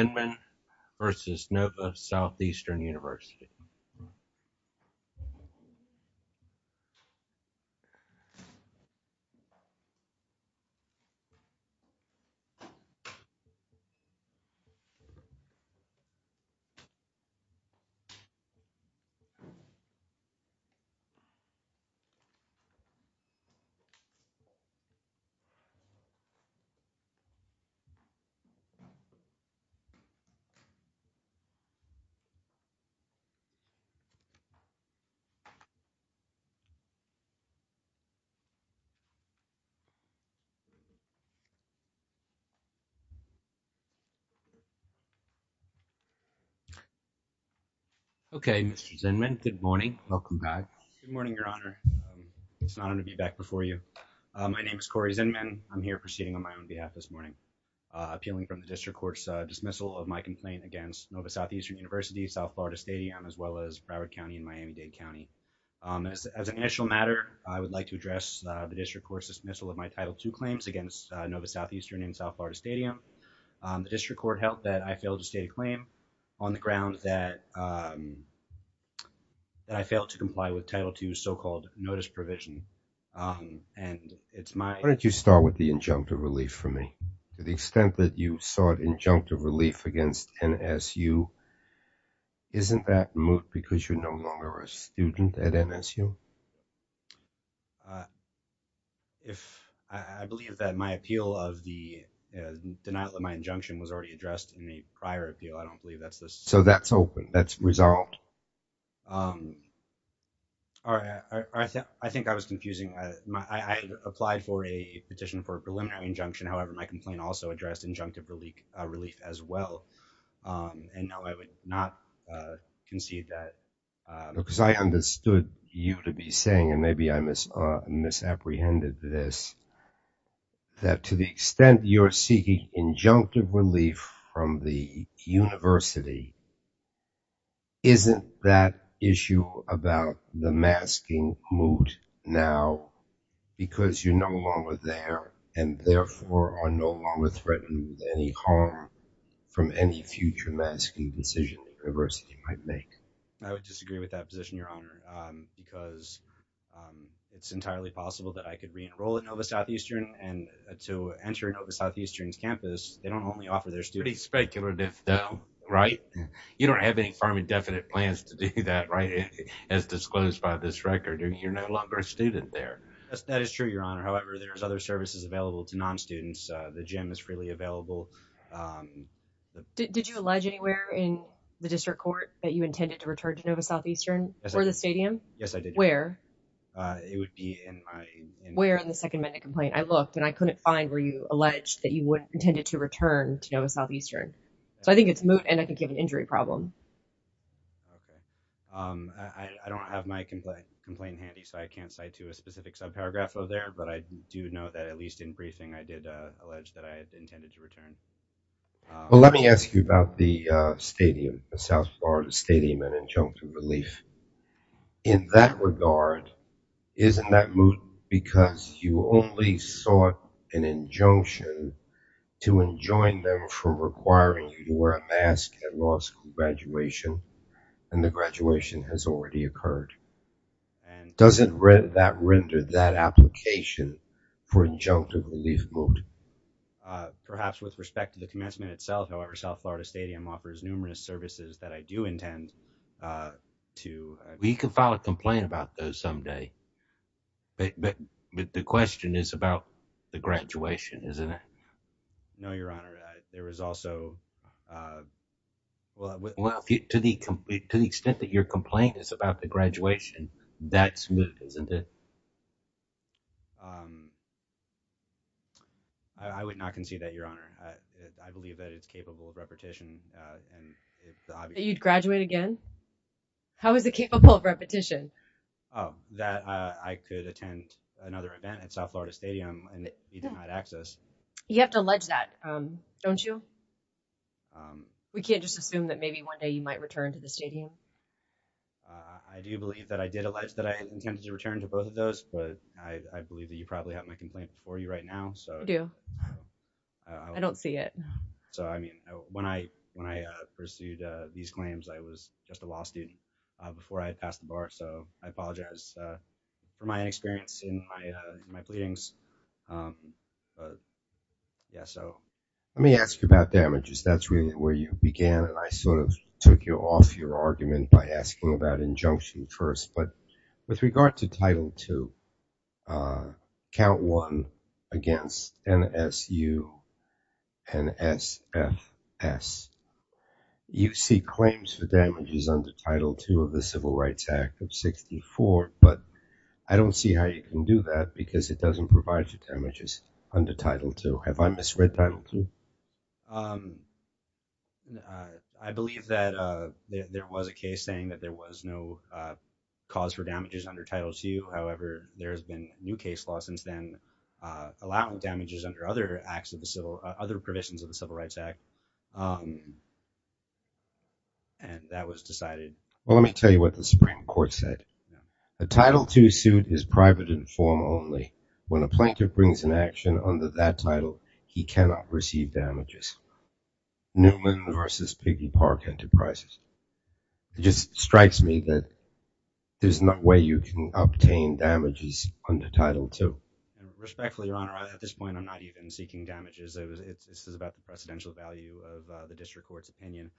Zinman v. Nova Southeastern University. Okay, Mr. Zinman, good morning, welcome back. Good morning, Your Honor. It's an honor to be back before you. My name is Corey Zinman. I'm here proceeding on my own behalf this morning, appealing from the District Court's dismissal of my complaint against Nova Southeastern University, South Florida Stadium, as well as Broward County and Miami-Dade County. As an initial matter, I would like to address the District Court's dismissal of my Title II claims against Nova Southeastern and South Florida Stadium. The District Court held that I failed to state a claim on the grounds that I failed to comply with Title II's so-called notice provision, and it's my... Why don't you start with the injunctive relief for me? To the extent that you sought injunctive relief against NSU, isn't that moot because you're no longer a student at NSU? I believe that my appeal of the denial of my injunction was already addressed in the prior appeal. I don't believe that's the... So that's open, that's resolved? I think I was confusing. I applied for a petition for a preliminary injunction, however, my complaint also addressed injunctive relief as well, and no, I would not concede that. Because I understood you to be saying, and maybe I misapprehended this, that to the extent you're seeking injunctive relief from the university, isn't that issue about the masking moot now because you're no longer there, and therefore are no longer threatened with any harm from any future masking decision the university might make? I would disagree with that position, Your Honor, because it's entirely possible that I could re-enroll at Nova Southeastern, and to enter Nova Southeastern's campus, they don't only offer their students... Pretty speculative though, right? You don't have any firm and definite plans to do that, right, as disclosed by this record, or you're no longer a student there. That is true, Your Honor, however, there's other services available to non-students. The gym is freely available. Did you allege anywhere in the district court that you intended to return to Nova Southeastern? Yes, I did. For the stadium? Yes, I did. Where? It would be in my... Where in the second amendment complaint? I looked, and I couldn't find where you alleged that you intended to return to Nova Southeastern. So I think it's moot, and I think you have an injury problem. Okay. I don't have my complaint handy, so I can't cite to a specific subparagraph over there, but I do know that at least in briefing, I did allege that I had intended to return. Well, let me ask you about the stadium, the South Florida Stadium and injunction relief. In that regard, isn't that moot because you only sought an injunction to enjoin them from requiring you to wear a mask at law school graduation, and the graduation has already occurred? And... Doesn't that render that application for injunction relief moot? Perhaps with respect to the commencement itself, however, South Florida Stadium offers numerous services that I do intend to... We can file a complaint about those someday, but the question is about the graduation, isn't it? No, Your Honor. There was also... Well, to the extent that your complaint is about the graduation, that's moot, isn't it? I would not concede that, Your Honor. I believe that it's capable of repetition, and it's obvious. You'd graduate again? How is it capable of repetition? That I could attend another event at South Florida Stadium, and you did not access. You have to allege that, don't you? We can't just assume that maybe one day you might return to the stadium. I do believe that I did allege that I intended to return to both of those, but I believe that you probably have my complaint before you right now, so... I do. I don't see it. So I mean, when I pursued these claims, I was just a law student before I had passed the bar. So I apologize for my inexperience in my pleadings. Yeah, so... Let me ask you about damages. That's really where you began, and I sort of took you off your argument by asking about injunction first. But with regard to Title II, Count 1 against NSU, NSFS, you seek claims for damages under Title II of the Civil Rights Act of 64, but I don't see how you can do that because it doesn't provide you damages under Title II. Have I misread Title II? I believe that there was a case saying that there was no cause for damages under Title II. However, there has been new case law since then allowing damages under other provisions of the Civil Rights Act, and that was decided. Well, let me tell you what the Supreme Court said. A Title II suit is private and formal only. When a plaintiff brings an action under that title, he cannot receive damages. Newman versus Piggy Park Enterprises. It just strikes me that there's no way you can obtain damages under Title II. Respectfully, Your Honor, at this point, I'm not even seeking damages. This is about the precedential value of the district court's opinion,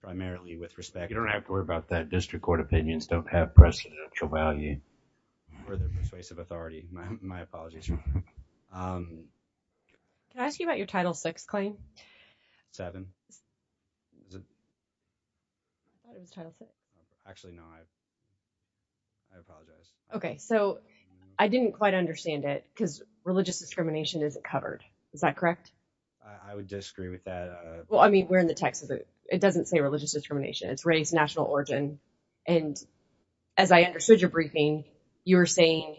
primarily with respect. You don't have to worry about that. District court opinions don't have precedential value or the persuasive authority. My apologies. Can I ask you about your Title VI claim? Seven. I thought it was Title VI. Actually, no. I apologize. Okay. So, I didn't quite understand it because religious discrimination isn't covered. Is that correct? I would disagree with that. Well, I mean, we're in the Texas. It doesn't say religious discrimination. It's race, national origin. And as I understood your briefing, you were saying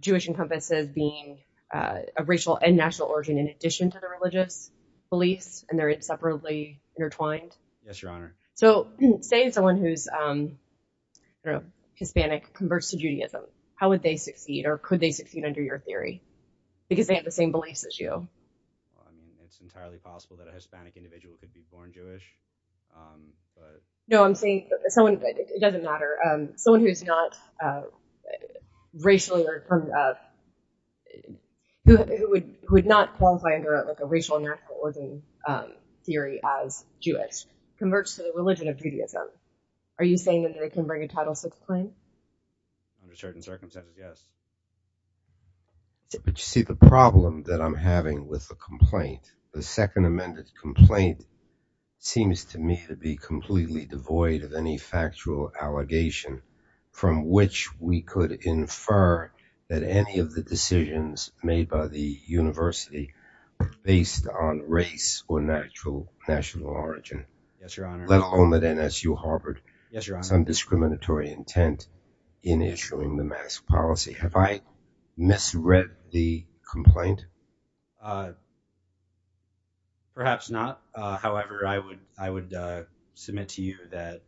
Jewish encompasses being of racial and national origin in addition to the religious beliefs, and they're separately intertwined? So, say someone who's Hispanic converts to Judaism. How would they succeed or could they succeed under your theory? Because they have the same beliefs as you. Well, I mean, it's entirely possible that a Hispanic individual could be born Jewish. No, I'm saying someone, it doesn't matter, someone who's not racially, who would not qualify under a racial and national origin theory as Jewish converts to the religion of Judaism. Are you saying that they can bring a Title VI claim? Under certain circumstances, yes. But you see, the problem that I'm having with the complaint, the second amended complaint, seems to me to be completely devoid of any factual allegation from which we could infer that any of the decisions made by the university are based on race or national origin. Yes, Your Honor. Let alone that NSU harbored some discriminatory intent in issuing the mask policy. Have I misread the complaint? Perhaps not. However, I would submit to you that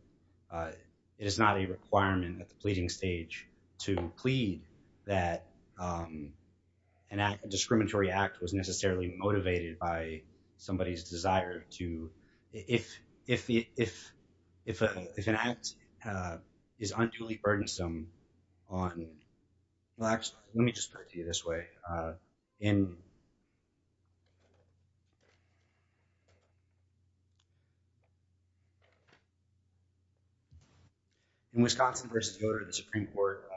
it is not a requirement at the pleading stage to If an act is unduly burdensome on, well actually, let me just put it to you this way. In Wisconsin v. Godre, the Supreme Court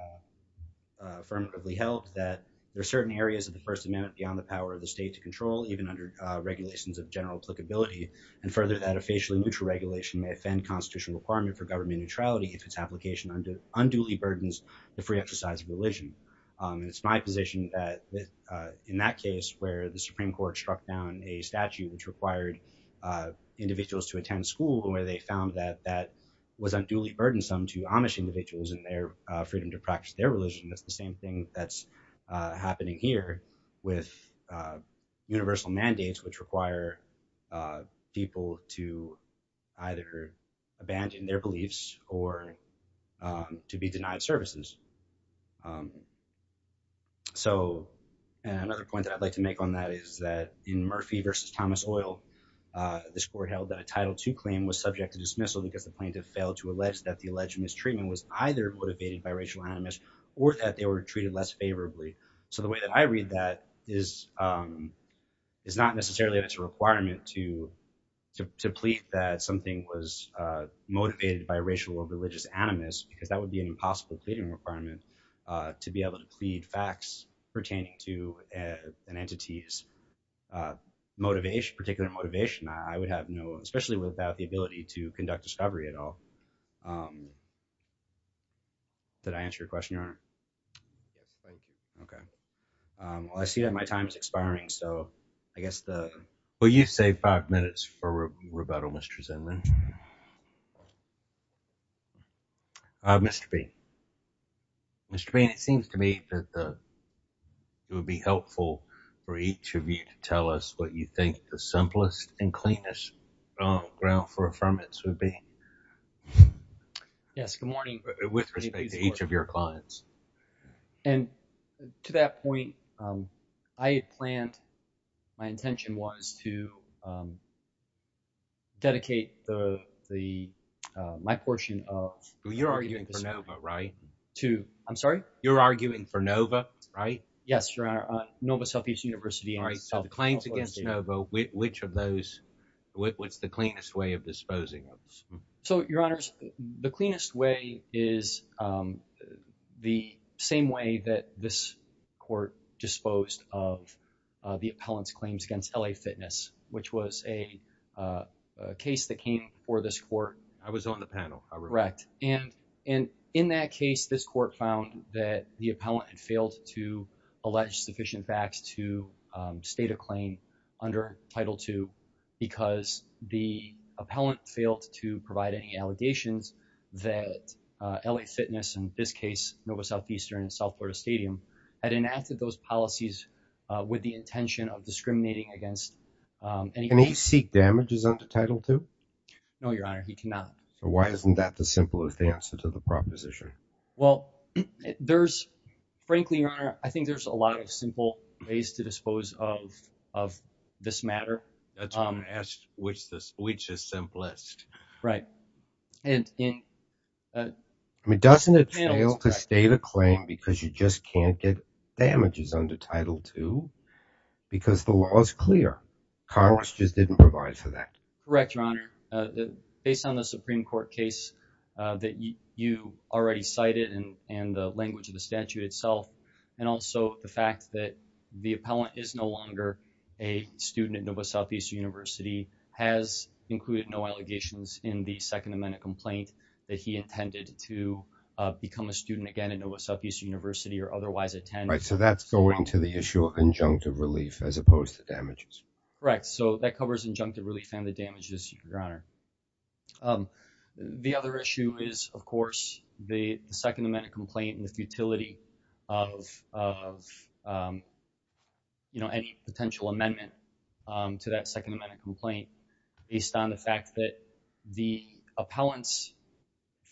affirmatively held that there are certain areas of the First Amendment beyond the power of the state to control, even under regulations of general applicability, and further that a facially neutral regulation may offend constitutional requirement for government neutrality if its application unduly burdens the free exercise of religion. And it's my position that in that case where the Supreme Court struck down a statute which required individuals to attend school where they found that that was unduly burdensome to Amish individuals and their freedom to practice their religion, that's the same thing that's happening here with universal mandates which require people to either abandon their beliefs or to be denied services. So another point that I'd like to make on that is that in Murphy v. Thomas Oil, this court held that a Title II claim was subject to dismissal because the plaintiff failed to allege that the alleged mistreatment was either motivated by racial animus or that they were treated less favorably. So the way that I read that is not necessarily that it's a requirement to plead that something was motivated by racial or religious animus because that would be an impossible pleading requirement to be able to plead facts pertaining to an entity's particular motivation. I would have no – especially without the ability to conduct discovery at all. Did I answer your question, Your Honor? Okay. Well, I see that my time is expiring, so I guess the – Will you save five minutes for rebuttal, Mr. Zinman? Mr. Bain. Mr. Bain, it seems to me that it would be helpful for each of you to tell us what you think the simplest and cleanest ground for affirmance would be. Yes. Good morning. With respect to each of your clients. And to that point, I had planned – my intention was to dedicate the – my portion of – You're arguing for NOVA, right? I'm sorry? You're arguing for NOVA, right? Yes, Your Honor. All right. So the claims against NOVA, which of those – what's the cleanest way of disposing of those? So, Your Honors, the cleanest way is the same way that this court disposed of the appellant's claims against LA Fitness, which was a case that came before this court. I was on the panel. Correct. And in that case, this court found that the appellant had failed to allege sufficient facts to state a claim under Title II because the appellant failed to provide any allegations that LA Fitness, in this case, NOVA Southeastern and South Florida Stadium, had enacted those policies with the intention of discriminating against any claim. Can he seek damages under Title II? No, Your Honor. He cannot. So why isn't that the simplest answer to the proposition? Well, there's – frankly, Your Honor, I think there's a lot of simple ways to dispose of this matter. That's why I asked which is simplest. Right. And in – I mean, doesn't it fail to state a claim because you just can't get damages under Title II? Because the law is clear. Congress just didn't provide for that. Correct, Your Honor. Based on the Supreme Court case that you already cited and the language of the statute itself and also the fact that the appellant is no longer a student at NOVA Southeastern University, has included no allegations in the Second Amendment complaint that he intended to become a student again at NOVA Southeastern University or otherwise attend. Right. So that's going to the issue of injunctive relief as opposed to damages. Correct. So that covers injunctive relief and the damages, Your Honor. The other issue is, of course, the Second Amendment complaint and the futility of any potential amendment to that Second Amendment complaint based on the fact that the appellant's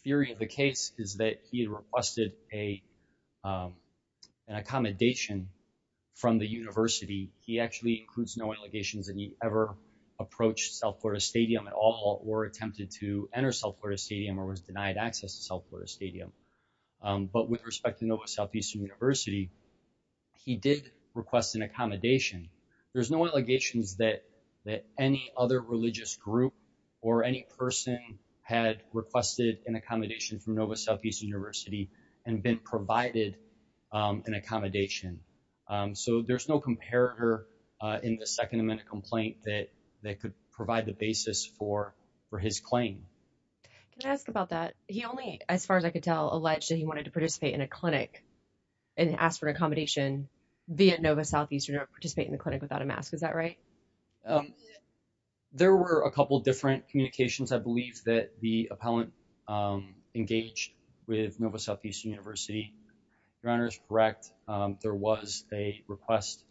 theory of the case is that he requested an accommodation from the university. He actually includes no allegations that he ever approached South Florida Stadium at all or attempted to enter South Florida Stadium or was denied access to South Florida Stadium. But with respect to NOVA Southeastern University, he did request an accommodation. There's no allegations that any other religious group or any person had requested an accommodation from NOVA Southeastern University and been provided an accommodation. So there's no comparator in the Second Amendment complaint that could provide the basis for his claim. Can I ask about that? He only, as far as I could tell, alleged that he wanted to participate in a clinic and asked for accommodation via NOVA Southeastern or participate in the clinic without a mask. Is that right? There were a couple of different communications, I believe, that the appellant engaged with NOVA Southeastern University. Your Honor is correct. There was a request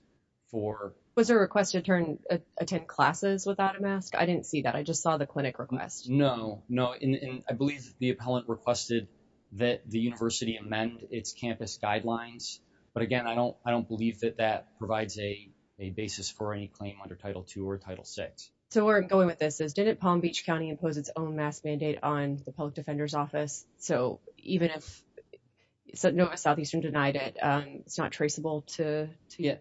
for... Was there a request to attend classes without a mask? I didn't see that. I just saw the clinic request. No, no. And I believe the appellant requested that the university amend its campus guidelines. But again, I don't I don't believe that that provides a basis for any claim under Title 2 or Title 6. So where I'm going with this is, didn't Palm Beach County impose its own mask mandate on the public defender's office? So even if NOVA Southeastern denied it, it's not traceable to your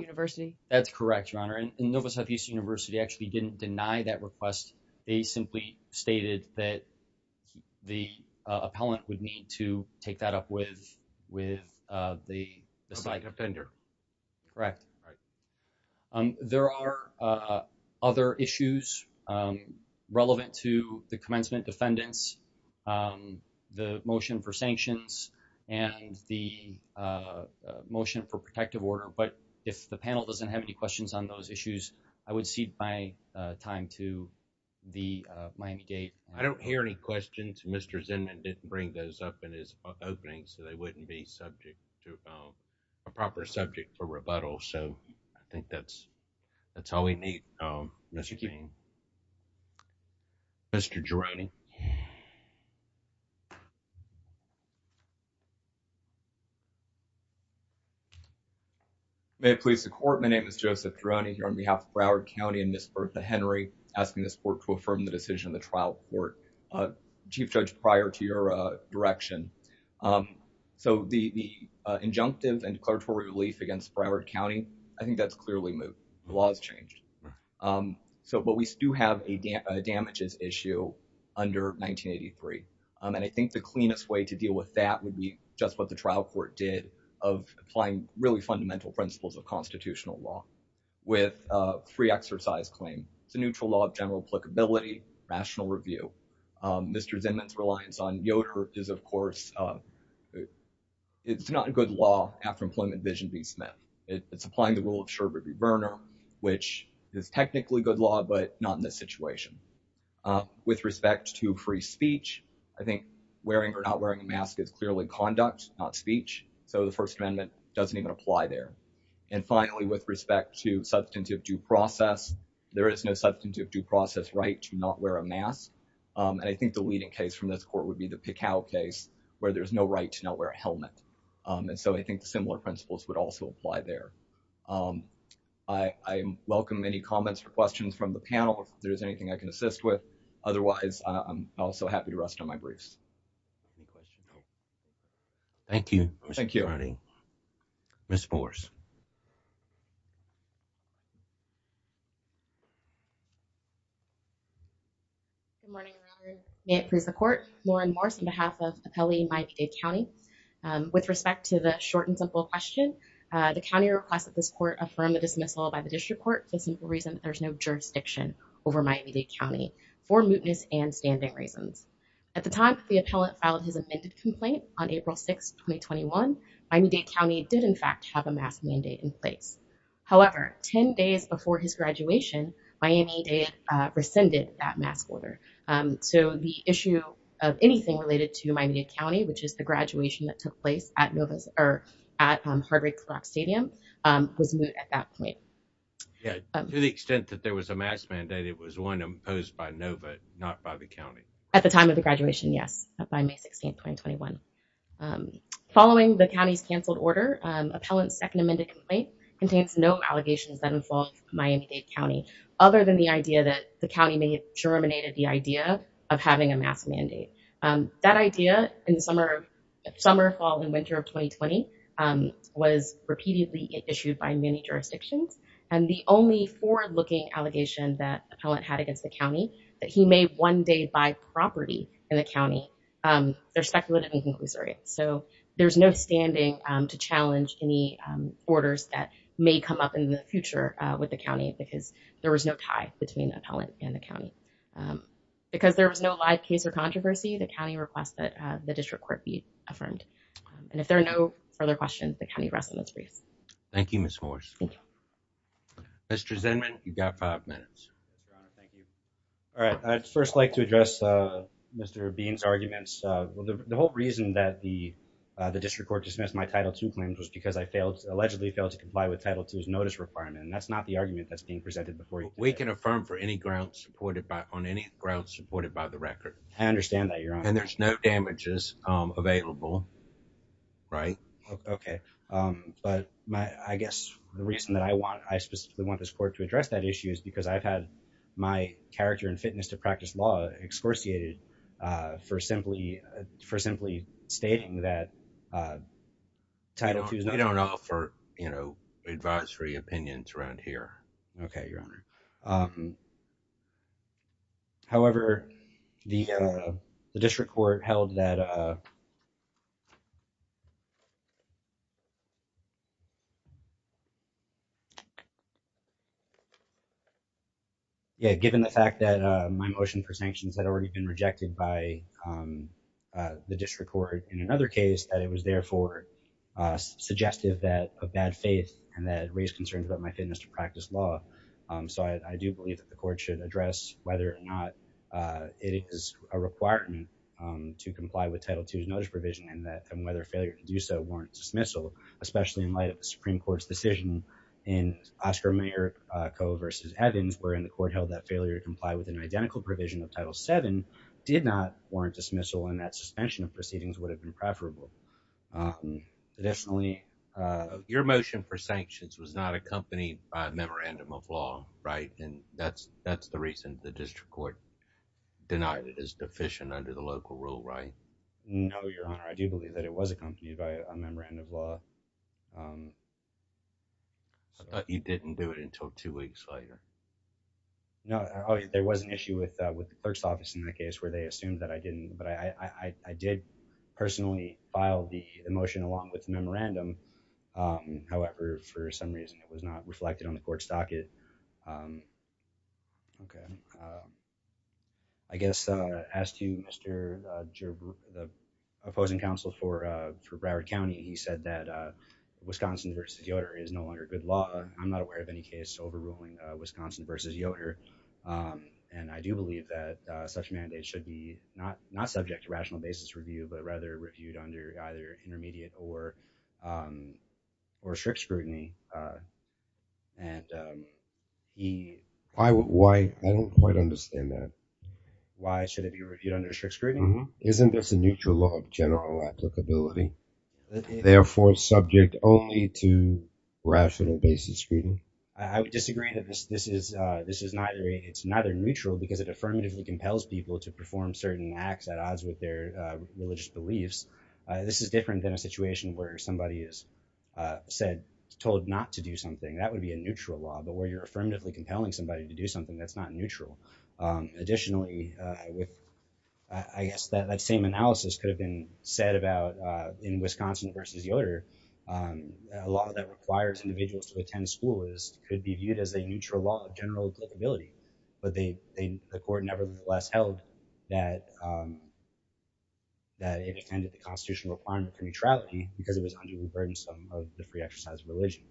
university? That's correct, Your Honor. And NOVA Southeastern University actually didn't deny that request. They simply stated that the appellant would need to take that up with the side defender. Correct. There are other issues relevant to the commencement defendants, the motion for sanctions and the motion for protective order. But if the panel doesn't have any questions on those issues, I would cede my time to the Miami-Dade. I don't hear any questions. Mr. Zinman didn't bring those up in his opening, so they wouldn't be subject to a proper subject for rebuttal. So I think that's that's all we need. Mr. Geronimo. May it please the court, my name is Joseph Geronimo on behalf of Broward County and Ms. Bertha Henry asking this court to affirm the decision of the trial court. Chief Judge, prior to your direction. So the injunctive and declaratory relief against Broward County, I think that's clearly moved. The law has changed. So but we do have a damages issue under 1983. And I think the cleanest way to deal with that would be just what the trial court did of applying really fundamental principles of constitutional law with free exercise claim. It's a neutral law of general applicability, rational review. Mr. Zinman's reliance on Yoder is, of course, it's not a good law after Employment Vision v. Smith. It's applying the rule of Scherbert v. Verner, which is technically good law, but not in this situation. With respect to free speech, I think wearing or not wearing a mask is clearly conduct, not speech. So the First Amendment doesn't even apply there. And finally, with respect to substantive due process, there is no substantive due process right to not wear a mask. And I think the leading case from this court would be the Pikao case where there's no right to not wear a helmet. And so I think the similar principles would also apply there. I welcome any comments or questions from the panel. There's anything I can assist with. Otherwise, I'm also happy to rest on my briefs. Thank you. Thank you, honey. Miss Morris. Good morning. May it please the court. Lauren Morris, on behalf of Kelly, my county, with respect to the short and simple question, the county request that this court affirm the dismissal by the district court. The simple reason there's no jurisdiction over my immediate county for mootness and standing reasons. At the time, the appellate filed his amended complaint on April 6, 2021. I need a county did, in fact, have a mask mandate in place. However, 10 days before his graduation, my immediate rescinded that mask order. So the issue of anything related to my immediate county, which is the graduation that took place at Novus or at Harvard Stadium was at that point. To the extent that there was a mask mandate, it was one imposed by Nova, not by the county at the time of the graduation. Yes. By May 16, 2021. Following the county's canceled order, appellant's second amended complaint contains no allegations that involve my immediate county. Other than the idea that the county may have terminated the idea of having a mask mandate. That idea in the summer, summer, fall and winter of 2020 was repeatedly issued by many jurisdictions. And the only forward looking allegation that appellant had against the county that he may one day buy property in the county, they're speculative and conclusive. So there's no standing to challenge any orders that may come up in the future with the county, because there was no tie between appellant and the county. Because there was no live case or controversy, the county request that the district court be affirmed. And if there are no further questions, the county rest of its briefs. Thank you, Ms. Morris. Mr. Zinman, you've got five minutes. Thank you. All right. I'd first like to address Mr. Bean's arguments. The whole reason that the the district court dismissed my Title two claims was because I failed, allegedly failed to comply with Title two's notice requirement. And that's not the argument that's being presented before you. We can affirm for any grounds supported by on any grounds supported by the record. I understand that you're on. And there's no damages available. Right. OK. But I guess the reason that I want I specifically want this court to address that issue is because I've had my character and fitness to practice law excorciated for simply for simply stating that. I don't know for, you know, advisory opinions around here. OK, your honor. However, the district court held that. Given the fact that my motion for sanctions had already been rejected by the district court in another case that it was therefore suggestive that a bad faith and that raised concerns about my fitness to practice law. So I do believe that the court should address whether or not it is a requirement to comply with Title two's notice provision and that and whether failure to do so warrant dismissal, especially in light of the Supreme Court's decision. And Oscar Mayer co versus Evans were in the court held that failure to comply with an identical provision of Title seven did not warrant dismissal and that suspension of proceedings would have been preferable. Additionally, your motion for sanctions was not accompanied by a memorandum of law. Right. And that's that's the reason the district court denied it is deficient under the local rule. Right. No, your honor. I do believe that it was accompanied by a memorandum of law. You didn't do it until two weeks later. No, there was an issue with with the clerk's office in that case where they assumed that I didn't but I did personally file the emotion along with memorandum. However, for some reason it was not reflected on the court's docket. Okay. I guess, as to Mr. The opposing counsel for for Broward County he said that Wisconsin versus the order is no longer good law, I'm not aware of any case overruling Wisconsin versus Yoder. And I do believe that such mandate should be not not subject to rational basis review but rather reviewed under either intermediate or or strict scrutiny. And he, I would why I don't quite understand that. Why should it be reviewed under strict scrutiny isn't this a neutral law of general applicability. Therefore subject only to rational basis. I would disagree that this this is this is neither it's neither neutral because it affirmatively compels people to perform certain acts at odds with their religious beliefs. This is different than a situation where somebody is said told not to do something that would be a neutral law but where you're affirmatively compelling somebody to do something that's not neutral. Additionally, with, I guess that that same analysis could have been said about in Wisconsin versus the order. A lot of that requires individuals to attend school is could be viewed as a neutral law of general ability, but they, they, the court nevertheless held that that it intended the constitutional requirement for neutrality, because it was unduly burdensome of the free exercise religion.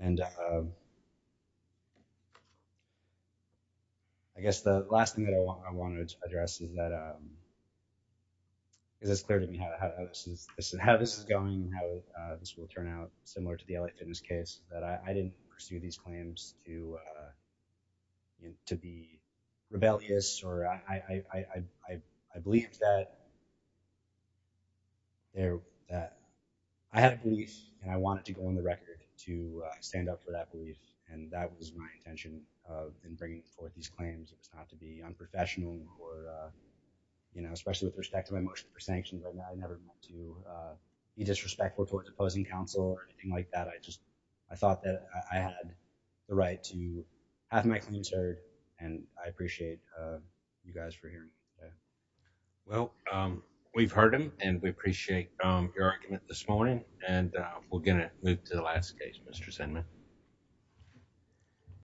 And I guess the last thing that I want to address is that is as clear to me how this is, this is how this is going, how this will turn out, similar to the fitness case that I didn't pursue these claims to, to be rebellious or I believe that there. I have these, and I wanted to go on the record to stand up for that belief. And that was my intention of bringing forth these claims, it's not to be unprofessional, or, you know, especially with respect to my motion for sanctions right now I never meant to be disrespectful towards opposing counsel or anything like that I just, I thought that I had the right to have my claims heard, and I appreciate you guys for hearing. Well, we've heard him, and we appreciate your argument this morning, and we're going to move to the last case Mr sentiment.